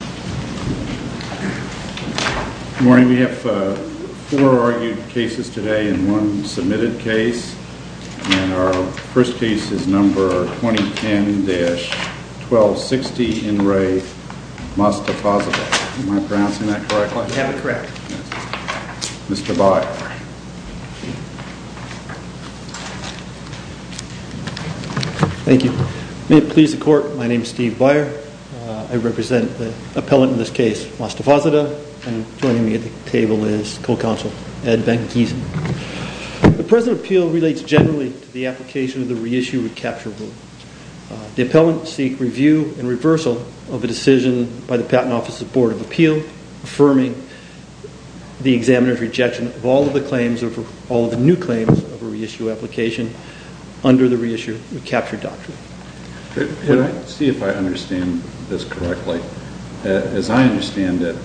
Good morning. We have four argued cases today and one submitted case. And our first case is number 2010-1260 NRE MOSTAFAZADEH. Am I pronouncing that correctly? You have it correct. Mr. Byer. Thank you. May it please the court, my name is Steve Byer. I represent the appellant in this case, Mostafazadeh, and joining me at the table is co-counsel Ed Van Keesen. The present appeal relates generally to the application of the reissue recapture rule. The appellant seek review and reversal of a decision by the Patent Office's Board of Appeal affirming the examiner's all of the claims, all of the new claims of a reissue application under the reissue recapture doctrine. Could I see if I understand this correctly? As I understand it,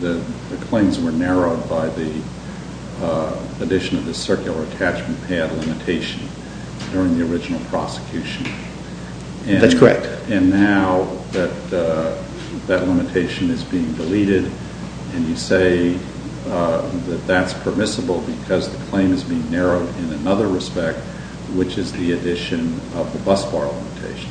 the claims were narrowed by the addition of the circular attachment pad limitation during the original prosecution. That's correct. And now that that limitation is being deleted, and you say that that's permissible because the claim is being narrowed in another respect, which is the addition of the bus bar limitation.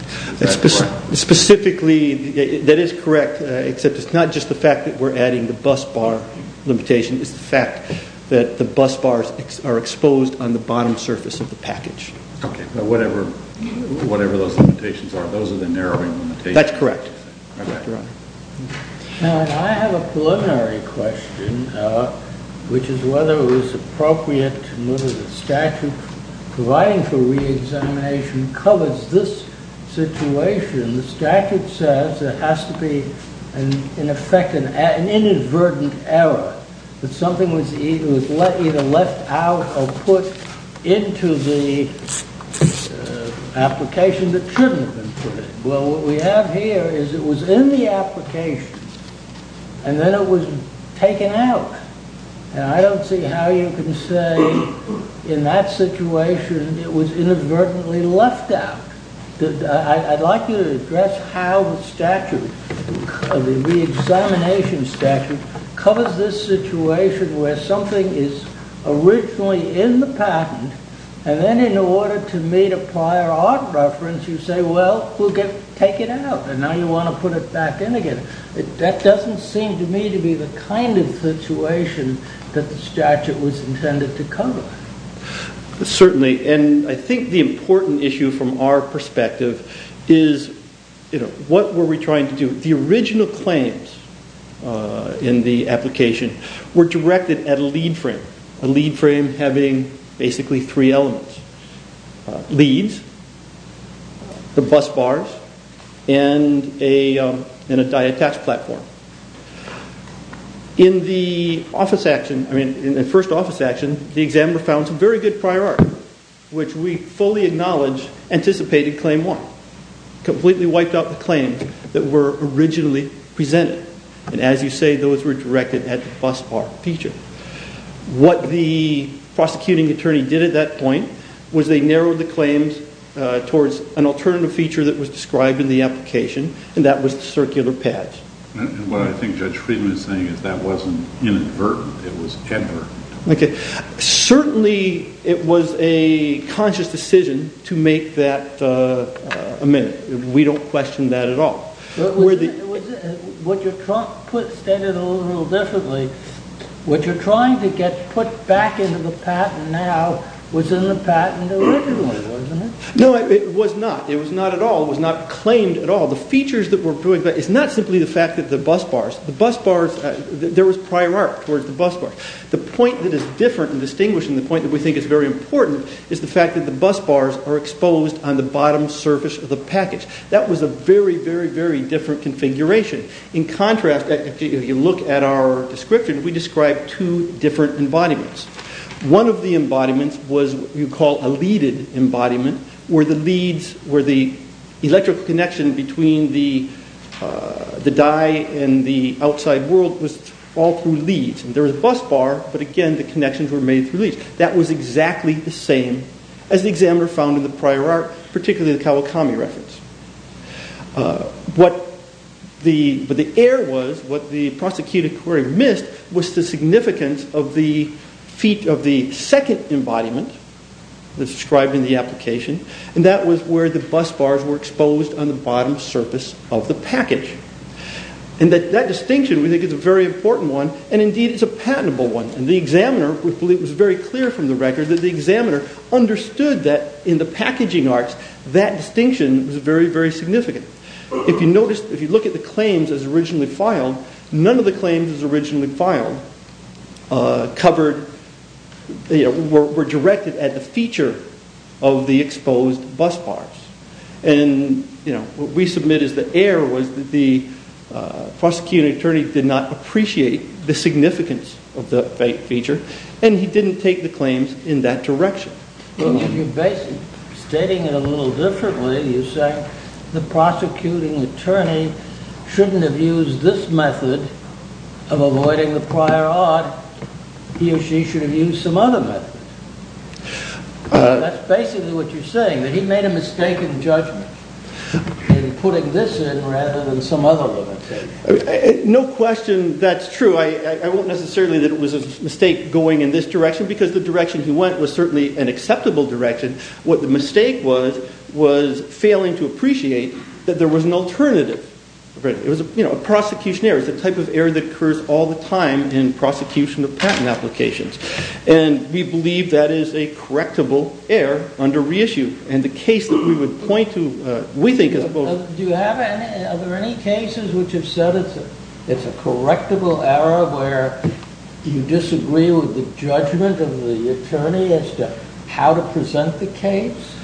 Specifically, that is correct, except it's not just the fact that we're adding the bus bar limitation, it's the fact that the bus bars are exposed on the bottom surface of the package. Whatever those limitations are, those are the narrowing limitations. That's correct. Now, I have a preliminary question, which is whether it was appropriate to move the statute providing for re-examination covers this situation. The statute says there has to be, in effect, an inadvertent error, that something was either left out or put into the application that shouldn't have been put in. Well, what we have here is it was in the application, and then it was taken out. And I don't see how you can say in that situation it was inadvertently left out. I'd like you to address how the statute, the re-examination statute, covers this situation where something is originally in the patent, and then in order to meet a prior art reference, you say, well, we'll take it out, and now you want to put it back in again. That doesn't seem to me to be the kind of situation that the statute was intended to cover. Certainly, and I think the important issue from our perspective is what were we trying to do? The original claims in the application were directed at a lead frame, a lead frame having basically three elements. Leads, the bus bars, and a diet tax platform. In the first office action, the examiner found some very good prior art, which we fully acknowledge anticipated claim one. Completely wiped out the claims that were originally presented. And as you say, those were directed at the bus bar feature. What the prosecuting attorney did at that point was they narrowed the claims towards an alternative feature that was described in the application, and that was the circular patch. And what I think Judge Friedman is saying is that wasn't inadvertently. It was ever. Certainly, it was a conscious decision to make that a minute. We don't question that at all. What you're trying to get put back into the patent now was in the patent originally, wasn't it? No, it was not. It was not at all. It was not claimed at all. The features that were distinguishing the point that we think is very important is the fact that the bus bars are exposed on the bottom surface of the package. That was a very, very, very different configuration. In contrast, if you look at our description, we described two different embodiments. One of the embodiments was what you call a leaded embodiment, where the leads, where the electrical connection between the die and the outside world was all through leads. There was a bus bar, but again, the connections were made through leads. That was exactly the same as the examiner found in the prior art, particularly the Kawakami reference. What the error was, what the prosecuting query missed, was the significance of the feet of the second embodiment that's described in the application, and that was where the bus bars were exposed on the bottom surface of the package. That distinction we think is a very important one, and indeed it's a patentable one. The examiner was very clear from the record that the examiner understood that in the packaging arts that distinction was very, very significant. If you look at the claims as originally filed, none of the claims as originally filed were directed at the feature of the exposed bus bars. What we submit as the error was that the prosecuting attorney did not appreciate the significance of the feature, and he didn't take the claims in that direction. You're stating it a little differently. You're saying the prosecuting attorney shouldn't have used this method of avoiding the prior art. He or she should have used some other method. That's basically what you're saying, that he made a mistake in judgment in putting this in rather than some other method. No question that's true. I won't necessarily that it was a mistake going in this direction because the direction he went was certainly an acceptable direction. What the mistake was was failing to appreciate that there was an alternative. It was a prosecution error. It's the type of error that occurs all the time in prosecution of patent applications. We believe that is a correctable error under reissue. Are there any cases which have said it's a correctable error where you disagree with the judgment of the attorney as to how to present the case?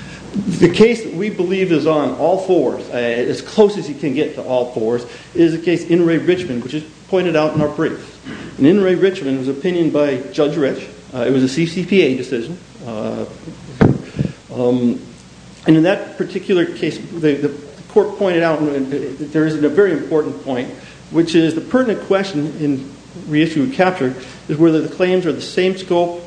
The case that we believe is on all fours, as close as you can get to all fours, is the opinion by Judge Rich. It was a CCPA decision. In that particular case, the court pointed out that there is a very important point, which is the pertinent question in reissue and capture is whether the claims are the same scope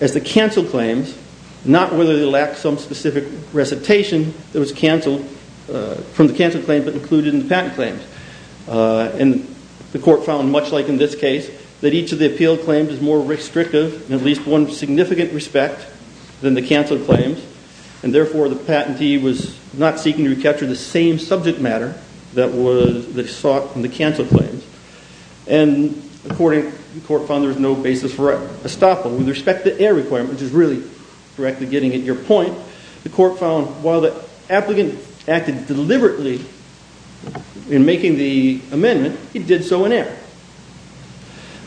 as the cancelled claims, not whether they lack some specific recitation that was cancelled from the cancelled claims but included in the patent claims. The court found, much like in this case, that each of the appealed claims is more restrictive in at least one significant respect than the cancelled claims and therefore the patentee was not seeking to recapture the same subject matter that was sought in the cancelled claims. According, the court found there was no basis for estoppel. With respect to the error requirement, which is really directly getting at your point, the court found while the applicant acted deliberately in making the amendment, he did so in error.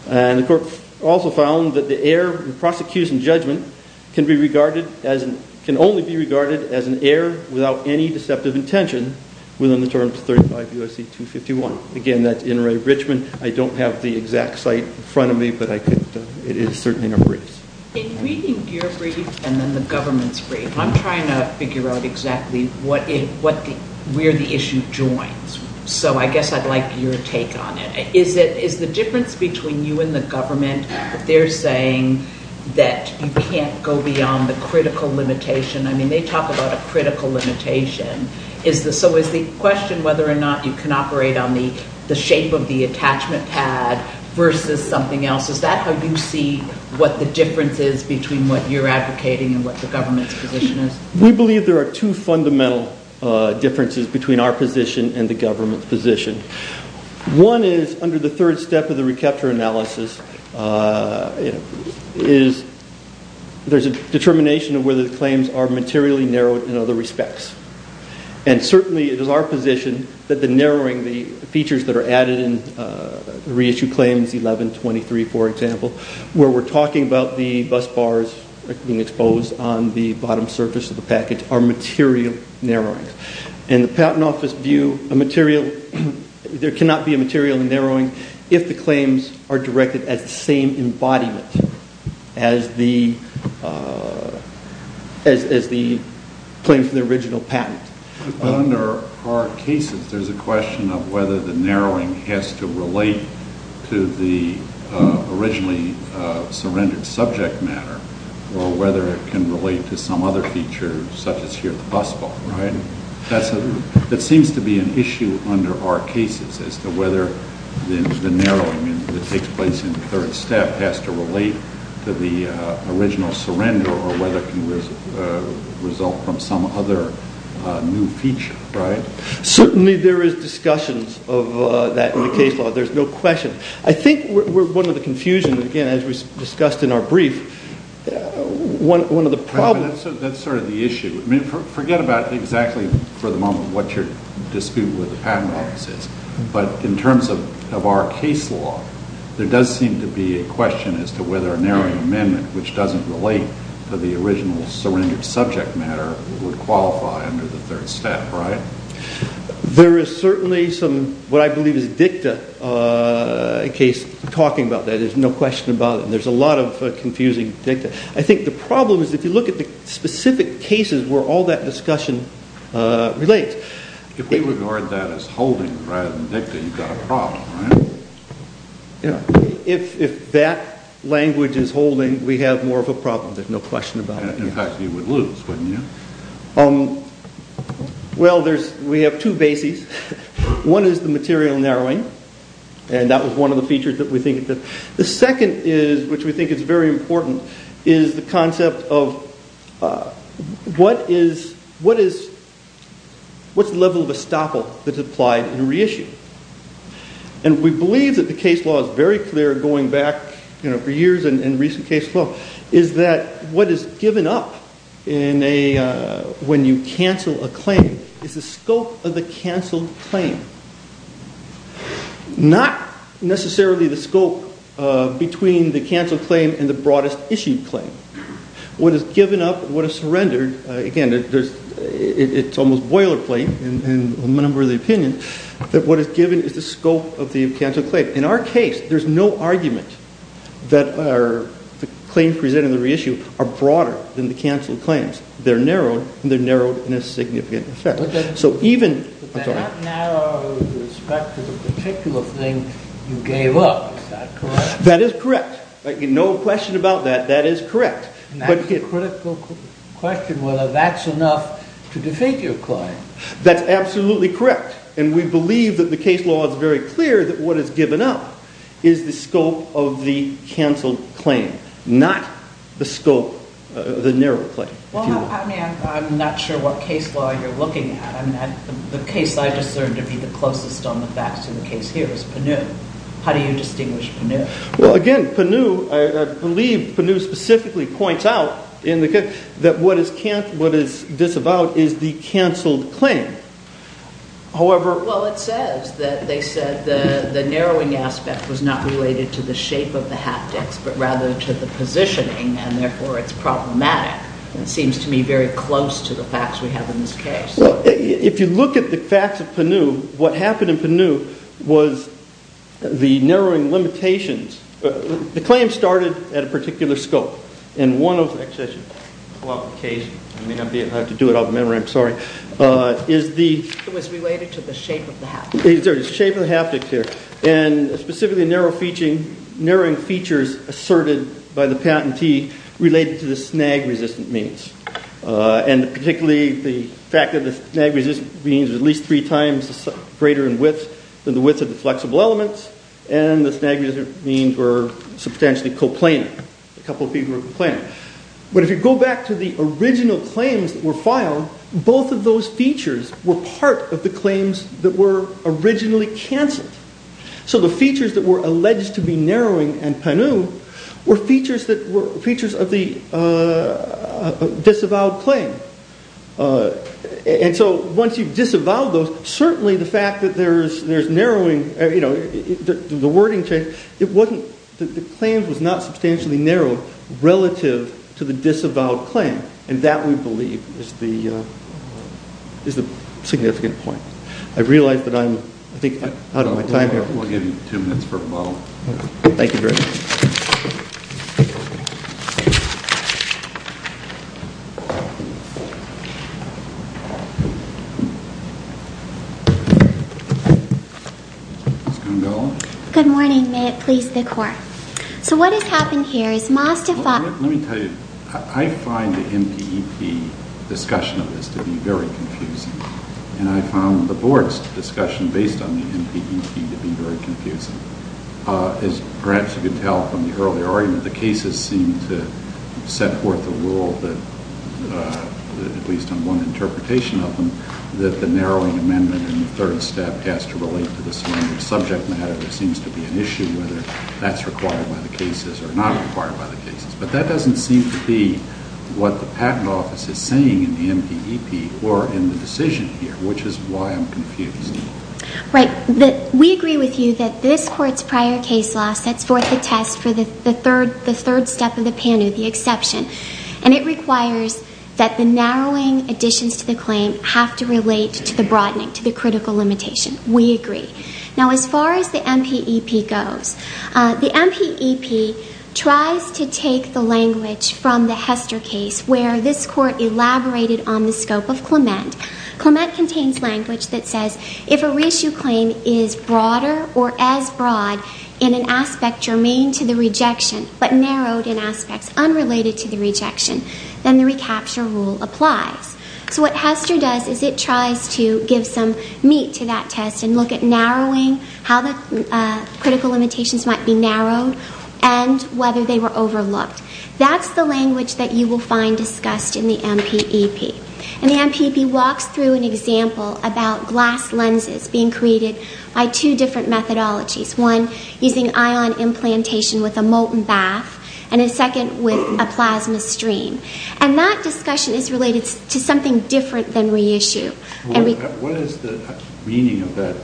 The court also found that the error in prosecution judgment can only be regarded as an error without any deceptive intention within the terms of 35 U.S.C. 251. Again, that's in Ray Richmond. I don't have the exact site in front of me, but it is certainly In reading your brief and then the government's brief, I'm trying to figure out exactly where the issue joins. So I guess I'd like your take on it. Is the difference between you and the government that they're saying that you can't go beyond the critical limitation? I mean, they talk about a critical limitation. So is the question whether or not you can between what you're advocating and what the government's position is? We believe there are two fundamental differences between our position and the government's position. One is under the third step of the recapture analysis is there's a determination of whether the claims are materially narrowed in other respects. And certainly it is our position that the narrowing, the features that are added in the reissued claims, 1123 for example, where we're talking about the bus bars being exposed on the bottom surface of the package are material narrowings. And the patent office view, there cannot be a material narrowing if the claims are directed at the same embodiment as the claim from the original patent. But under our cases, there's a question of whether the narrowing has to relate to the originally surrendered subject matter or whether it can relate to some other feature such as here at the bus bar, right? That seems to be an issue under our cases as to whether the narrowing that takes place in the third step has to relate to the original surrender or whether it can result from some other new feature, right? Certainly there is discussions of that in the case law. There's no question. I think one of the confusions, again, as we discussed in our brief, one of the problems... That's sort of the issue. Forget about exactly for the moment what your dispute with the patent office is. But in terms of our case law, there does seem to be a question as to whether a narrowing amendment which doesn't relate to the original surrendered subject matter would qualify under the third step, right? There is certainly some, what I believe is dicta case talking about that. There's no question about it. There's a lot of confusing dicta. I think the problem is if you look at the specific cases where all that discussion relates... If we regard that as holding rather than dicta, you've got a problem, right? If that language is holding, we have more of a problem. There's no question about it. In fact, you would lose, wouldn't you? Well, we have two bases. One is the material narrowing, and that was one of the features that we think... The second is, which we think is very important, is the concept of what is the level of estoppel that's applied in a reissue? And we believe that the case law is very clear going back for years in recent case law, is that what is given up when you cancel a claim is the scope of the canceled claim. Not necessarily the scope between the canceled claim and the broadest issued claim. What is given up, what is surrendered, again, it's almost boilerplate in a number of the opinions, that what is given is the scope of the canceled claim. In our case, there's no argument that the claims presented in the reissue are broader than the canceled claims. They're narrowed and they're narrowed in a significant effect. But they're not narrowed with respect to the particular thing you gave up. Is that correct? That is correct. No question about that. That is correct. And that's a critical question, whether that's enough to defeat your claim. That's absolutely correct. And we believe that the case law is very clear that what is given up is the scope of the canceled claim, not the scope, the narrow claim. Well, I mean, I'm not sure what case law you're looking at. I mean, the case I discerned to be the closest on the facts in the case here is Penu. How do you distinguish Penu? Well, again, Penu, I believe Penu specifically points out that what is disavowed is the canceled claim. However... Well, it says that they said the narrowing aspect was not related to the shape of the haptics, but rather to the positioning, and therefore it's problematic. It seems to me very close to the facts we have in this case. Well, if you look at the facts of Penu, what happened in Penu was the narrowing limitations. The claim started at a particular scope, and one of the... Actually, I should pull up the case. I may have to do it off memory. I'm sorry. It was related to the shape of the haptics. The shape of the haptics here, and specifically narrowing features asserted by the patentee related to the snag-resistant means, and particularly the fact that the snag-resistant means were at least three times greater in width than the width of the flexible elements, and the snag-resistant means were substantially coplanar. A couple of people were coplanar. But if you go back to the original claims that were filed, both of those features were part of the claims that were originally canceled. So the features that were alleged to be narrowing in Penu were features of the disavowed claim. And so once you've disavowed those, certainly the fact that there's narrowing... The wording changed. The claim was not substantially narrowed relative to the disavowed claim, and that, we believe, is the significant point. I realize that I'm, I think, out of my time here. We'll give you two minutes for a follow-up. Thank you, Bruce. Ms. Gongola? Good morning. May it please the Court. So what has happened here is Mazda... Let me tell you, I find the MPEP discussion of this to be very confusing, and I found the Board's discussion based on the MPEP to be very confusing. As perhaps you can tell from the earlier argument, the cases seem to set forth a rule that, at least on one interpretation of them, that the narrowing amendment in the third step has to relate to the surrounding subject matter. There seems to be an issue whether that's required by the cases or not required by the cases. But that doesn't seem to be what the Patent Office is saying in the MPEP or in the decision here, which is why I'm confused. Right. We agree with you that this Court's prior case law sets forth a test for the third step of the PANU, the exception. And it requires that the narrowing additions to the claim have to relate to the broadening, to the critical limitation. We agree. Now, as far as the MPEP goes, the MPEP tries to take the language from the Hester case, where this Court elaborated on the scope of Clement. Clement contains language that says, if a reissue claim is broader or as broad in an aspect germane to the rejection, but narrowed in aspects unrelated to the rejection, then the recapture rule applies. So what Hester does is it tries to give some meat to that test and look at narrowing, how the critical limitations might be narrowed, and whether they were overlooked. That's the language that you will find discussed in the MPEP. And the MPEP walks through an example about glass lenses being created by two different methodologies, one using ion implantation with a molten bath, and a second with a plasma stream. And that discussion is related to something different than reissue. What is the meaning of that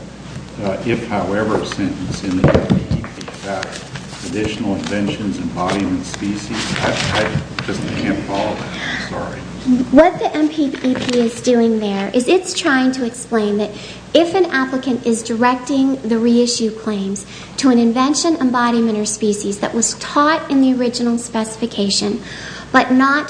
if-however sentence in the MPEP? Additional inventions, embodiments, species? I just can't follow that. I'm sorry. What the MPEP is doing there is it's trying to explain that if an applicant is directing the reissue claims to an invention, embodiment, or species that was taught in the original specification but not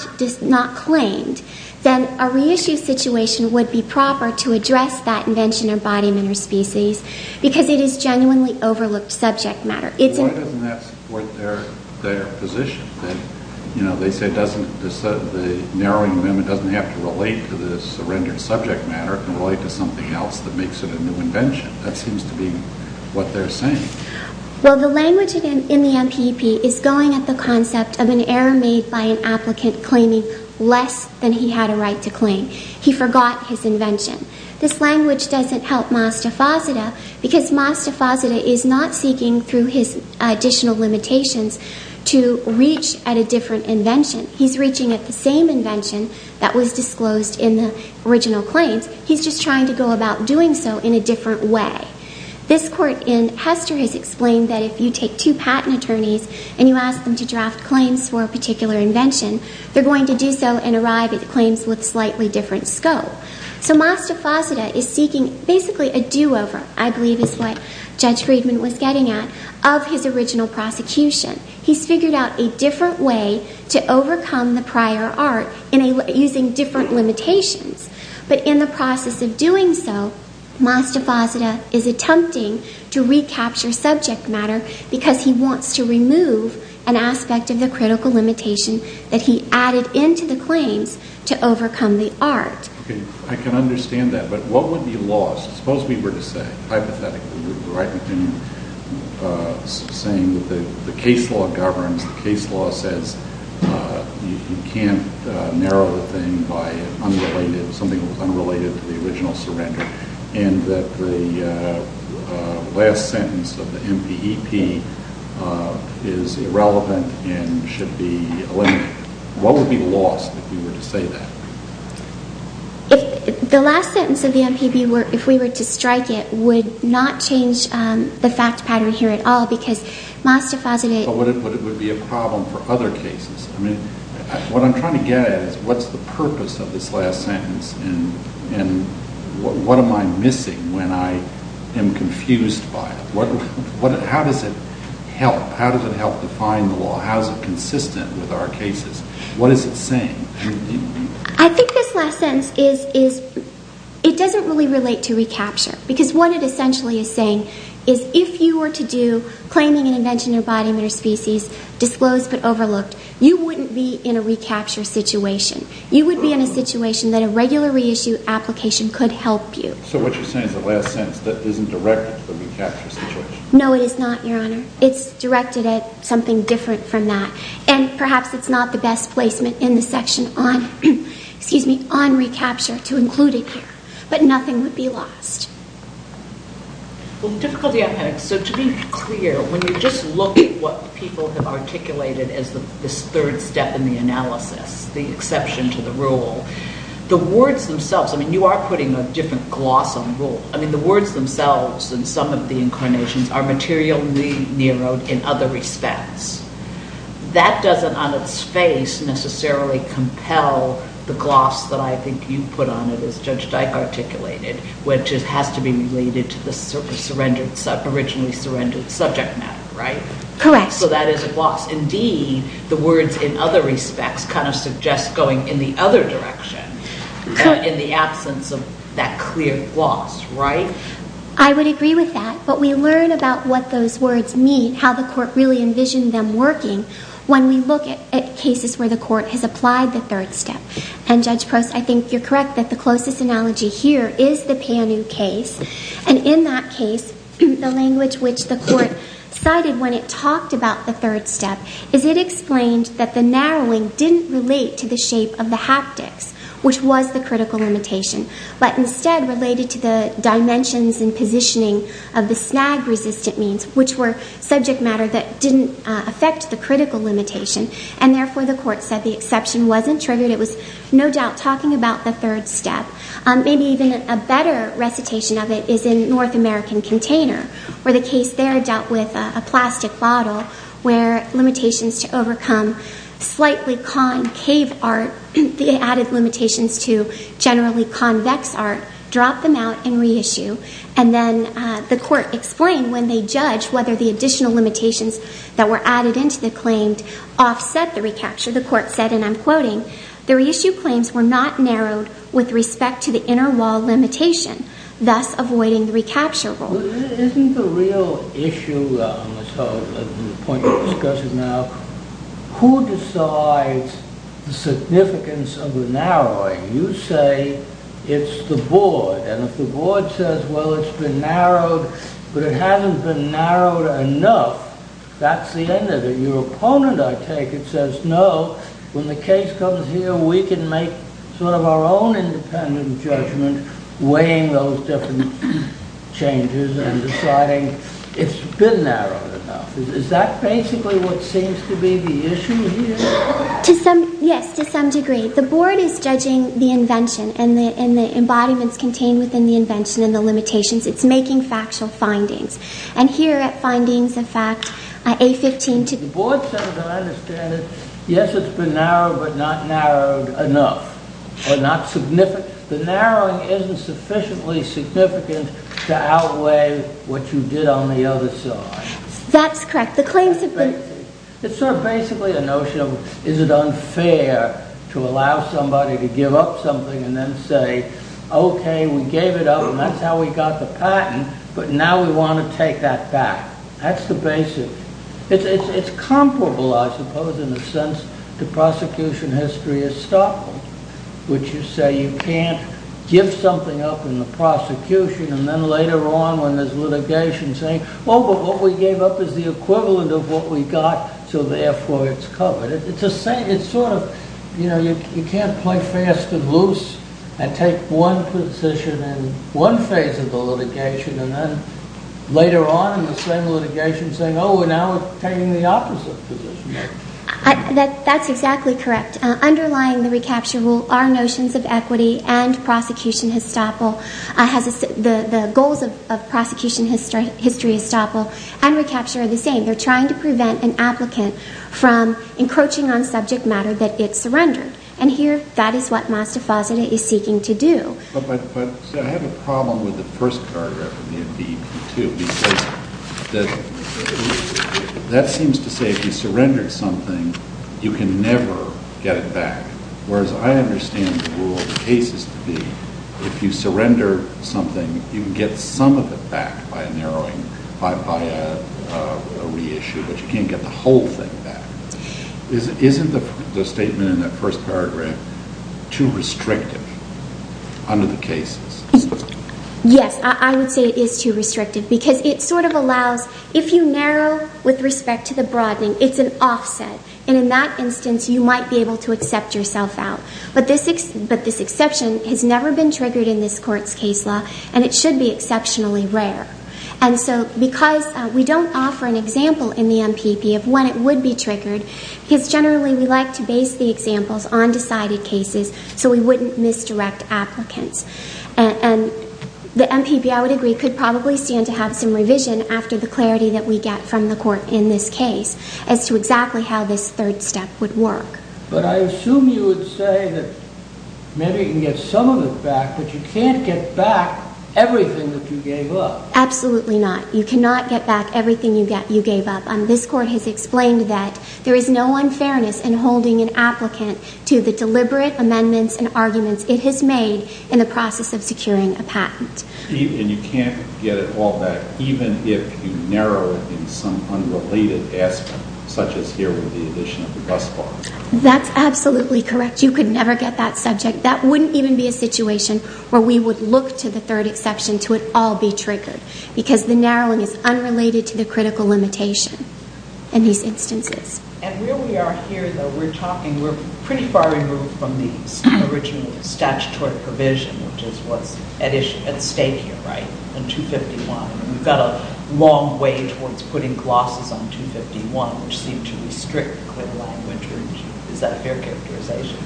claimed, then a reissue situation would be proper to address that invention, embodiment, or species because it is genuinely overlooked subject matter. Why doesn't that support their position? They say the narrowing amendment doesn't have to relate to the surrendered subject matter and relate to something else that makes it a new invention. That seems to be what they're saying. Well, the language in the MPEP is going at the concept of an error made by an applicant claiming less than he had a right to claim. He forgot his invention. This language doesn't help Mastafasida because Mastafasida is not seeking, through his additional limitations, to reach at a different invention. He's reaching at the same invention that was disclosed in the original claims. He's just trying to go about doing so in a different way. This court in Hester has explained that if you take two patent attorneys and you ask them to draft claims for a particular invention, they're going to do so and arrive at the claims with a slightly different scope. So Mastafasida is seeking basically a do-over, I believe is what Judge Friedman was getting at, of his original prosecution. He's figured out a different way to overcome the prior art using different limitations. But in the process of doing so, Mastafasida is attempting to recapture subject matter because he wants to remove an aspect of the critical limitation that he added into the claims to overcome the art. Okay. I can understand that. But what would be lost? Suppose we were to say, hypothetically, that the case law governs, the case law says you can't narrow the thing by something that was unrelated to the original surrender, and that the last sentence of the MPEP is irrelevant and should be eliminated. What would be lost if we were to say that? The last sentence of the MPEP, if we were to strike it, would not change the fact pattern here at all because Mastafasida But it would be a problem for other cases. I mean, what I'm trying to get at is what's the purpose of this last sentence, and what am I missing when I am confused by it? How does it help? How does it help define the law? How is it consistent with our cases? What is it saying? I think this last sentence is, it doesn't really relate to recapture because what it essentially is saying is if you were to do claiming an invention in a body or species disclosed but overlooked, you wouldn't be in a recapture situation. You would be in a situation that a regular reissue application could help you. So what you're saying is the last sentence isn't directed to the recapture situation. No, it is not, Your Honor. It's directed at something different from that. And perhaps it's not the best placement in the section on recapture to include it here. But nothing would be lost. Well, the difficulty I'm having, so to be clear, when you just look at what people have articulated as this third step in the analysis, the exception to the rule, the words themselves, I mean, you are putting a different gloss on rule. I mean, the words themselves and some of the incarnations are materially narrowed in other respects. That doesn't on its face necessarily compel the gloss that I think you put on it as Judge Dyke articulated, which has to be related to the originally surrendered subject matter, right? Correct. So that is a gloss. Indeed, the words in other respects kind of suggest going in the other direction in the absence of that clear gloss, right? I would agree with that. But we learn about what those words mean, how the court really envisioned them working, when we look at cases where the court has applied the third step. And, Judge Prost, I think you're correct that the closest analogy here is the Panu case. And in that case, the language which the court cited when it talked about the third step is it explained that the narrowing didn't relate to the shape of the haptics, which was the critical limitation, but instead related to the dimensions and positioning of the snag-resistant means, which were subject matter that didn't affect the critical limitation. And, therefore, the court said the exception wasn't triggered. It was no doubt talking about the third step. Maybe even a better recitation of it is in North American Container, where the case there dealt with a plastic bottle where limitations to overcome slightly concave art, the added limitations to generally convex art, drop them out and reissue. And then the court explained when they judged whether the additional limitations that were added into the claim offset the recapture. The court said, and I'm quoting, the reissue claims were not narrowed with respect to the inner wall limitation, thus avoiding the recapture rule. Isn't the real issue on the point you're discussing now, who decides the significance of the narrowing? You say it's the board. And if the board says, well, it's been narrowed, but it hasn't been narrowed enough, that's the end of it. Your opponent, I take it, says, no, when the case comes here, we can make sort of our own independent judgment, weighing those different changes and deciding it's been narrowed enough. Is that basically what seems to be the issue here? Yes, to some degree. The board is judging the invention and the embodiments contained within the invention and the limitations. It's making factual findings. And here at findings, in fact, A15 to the board said, yes, it's been narrowed, but not narrowed enough. The narrowing isn't sufficiently significant to outweigh what you did on the other side. That's correct. It's sort of basically a notion of is it unfair to allow somebody to give up something and then say, okay, we gave it up and that's how we got the patent, but now we want to take that back. That's the basic. It's comparable, I suppose, in a sense, to prosecution history of Stockholm, which you say you can't give something up in the prosecution and then later on when there's litigation saying, oh, but what we gave up is the equivalent of what we got, so therefore it's covered. You can't play fast and loose and take one position in one phase of the litigation and then later on in the same litigation saying, oh, we're now obtaining the opposite position. That's exactly correct. Underlying the recapture rule are notions of equity and prosecution of Stockholm. The goals of prosecution history of Stockholm and recapture are the same. They're trying to prevent an applicant from encroaching on subject matter that it surrendered, and here that is what Mazda-Fazenda is seeking to do. I have a problem with the first paragraph of the NBP2 because that seems to say if you surrendered something, you can never get it back, whereas I understand the rule of the case as to be if you surrender something, you can get some of it back by a reissue, but you can't get the whole thing back. Isn't the statement in that first paragraph too restrictive? Under the cases. Yes, I would say it is too restrictive because it sort of allows, if you narrow with respect to the broadening, it's an offset, and in that instance you might be able to accept yourself out, but this exception has never been triggered in this court's case law, and it should be exceptionally rare. And so because we don't offer an example in the NPP of when it would be triggered, because generally we like to base the examples on decided cases so we wouldn't misdirect applicants. And the NPP, I would agree, could probably stand to have some revision after the clarity that we get from the court in this case as to exactly how this third step would work. But I assume you would say that maybe you can get some of it back, but you can't get back everything that you gave up. Absolutely not. You cannot get back everything you gave up, and this court has explained that there is no unfairness in holding an applicant to the deliberate amendments and arguments it has made in the process of securing a patent. And you can't get it all back even if you narrow it in some unrelated aspect, such as here with the addition of the bus box. That's absolutely correct. You could never get that subject. That wouldn't even be a situation where we would look to the third exception to it all be triggered, because the narrowing is unrelated to the critical limitation in these instances. And where we are here, though, we're talking, we're pretty far removed from the original statutory provision, which is what's at stake here, right, in 251. We've got a long way towards putting glosses on 251, which seem to restrict clear language. Is that a fair characterization?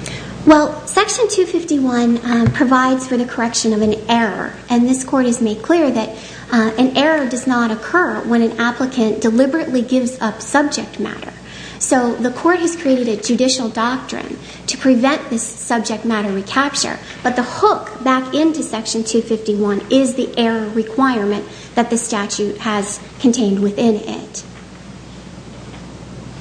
Well, Section 251 provides for the correction of an error, and this court has made clear that an error does not occur when an applicant deliberately gives up subject matter. So the court has created a judicial doctrine to prevent this subject matter recapture, but the hook back into Section 251 is the error requirement that the statute has contained within it.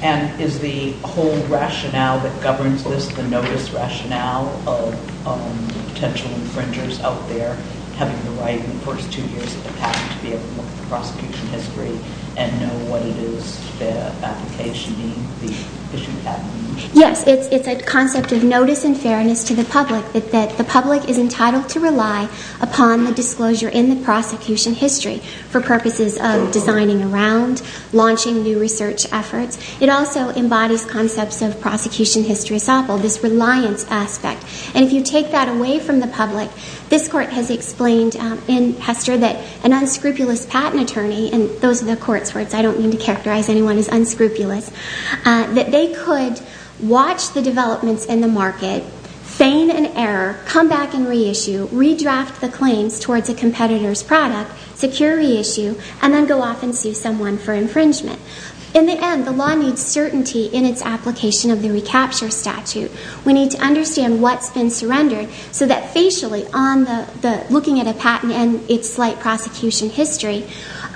And is the whole rationale that governs this, the notice rationale of potential infringers out there having the right in the first two years of the patent to be able to look at the prosecution history and know what it is their application being, the issue of patent infringement? Yes, it's a concept of notice and fairness to the public that the public is entitled to rely upon the disclosure in the prosecution history for purposes of designing around, launching new research efforts. It also embodies concepts of prosecution history essential, this reliance aspect. And if you take that away from the public, this court has explained in Hester that an unscrupulous patent attorney, and those are the court's words, I don't mean to characterize anyone as unscrupulous, that they could watch the developments in the market, feign an error, come back and reissue, redraft the claims towards a competitor's product, secure reissue, and then go off and sue someone for infringement. In the end, the law needs certainty in its application of the recapture statute. We need to understand what's been surrendered so that facially, looking at a patent and its slight prosecution history,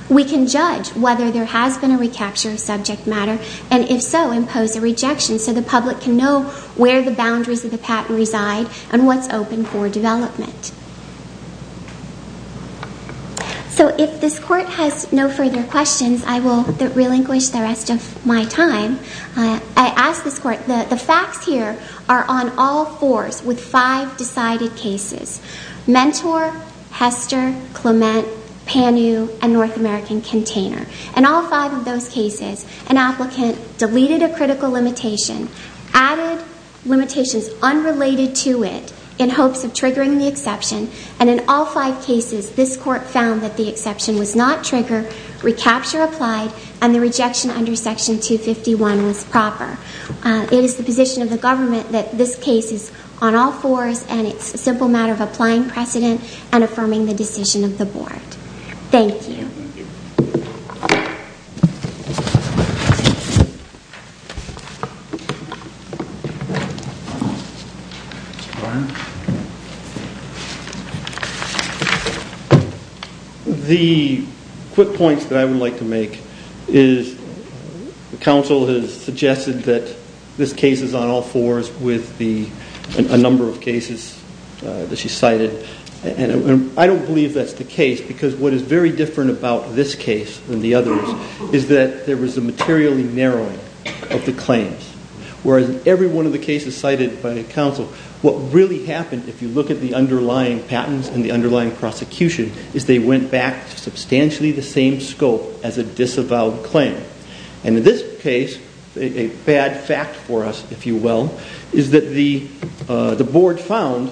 we can judge whether there has been a recapture of subject matter, and if so, impose a rejection so the public can know where the boundaries of the patent reside and what's open for development. So if this court has no further questions, I will relinquish the rest of my time. I ask this court, the facts here are on all fours with five decided cases, Mentor, Hester, Clement, Panu, and North American Container. In all five of those cases, an applicant deleted a critical limitation, added limitations unrelated to it in hopes of triggering the exception, and in all five cases, this court found that the exception was not triggered, recapture applied, and the rejection under section 251 was proper. It is the position of the government that this case is on all fours, and it's a simple matter of applying precedent and affirming the decision of the board. Thank you. Thank you. The quick points that I would like to make is the counsel has suggested that this case is on all fours with a number of cases that she cited, and I don't believe that's the case because what is very different about this case than the others is that there was a materially narrowing of the claims, whereas in every one of the cases cited by the counsel, what really happened, if you look at the underlying patents and the underlying prosecution, is they went back to substantially the same scope as a disavowed claim. And in this case, a bad fact for us, if you will, is that the board found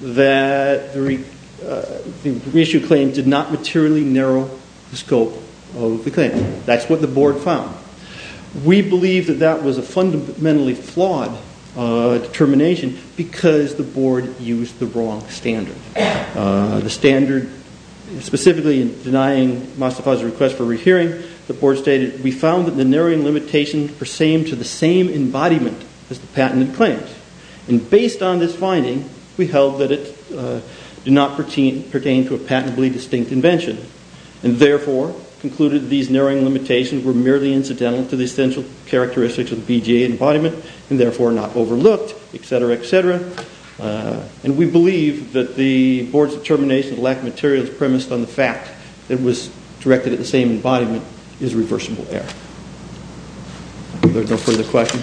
that the reissued claim did not materially narrow the scope of the claim. That's what the board found. We believe that that was a fundamentally flawed determination because the board used the wrong standard. The standard, specifically in denying Mostafa's request for rehearing, the board stated, we found that the narrowing limitations persemed to the same embodiment as the patented claims. And based on this finding, we held that it did not pertain to a patently distinct invention and therefore concluded these narrowing limitations were merely incidental to the essential characteristics of the BJA embodiment and therefore not overlooked, et cetera, et cetera. And we believe that the board's determination of the lack of materials premised on the fact that it was directed at the same embodiment is reversible error. Are there no further questions? Thank you.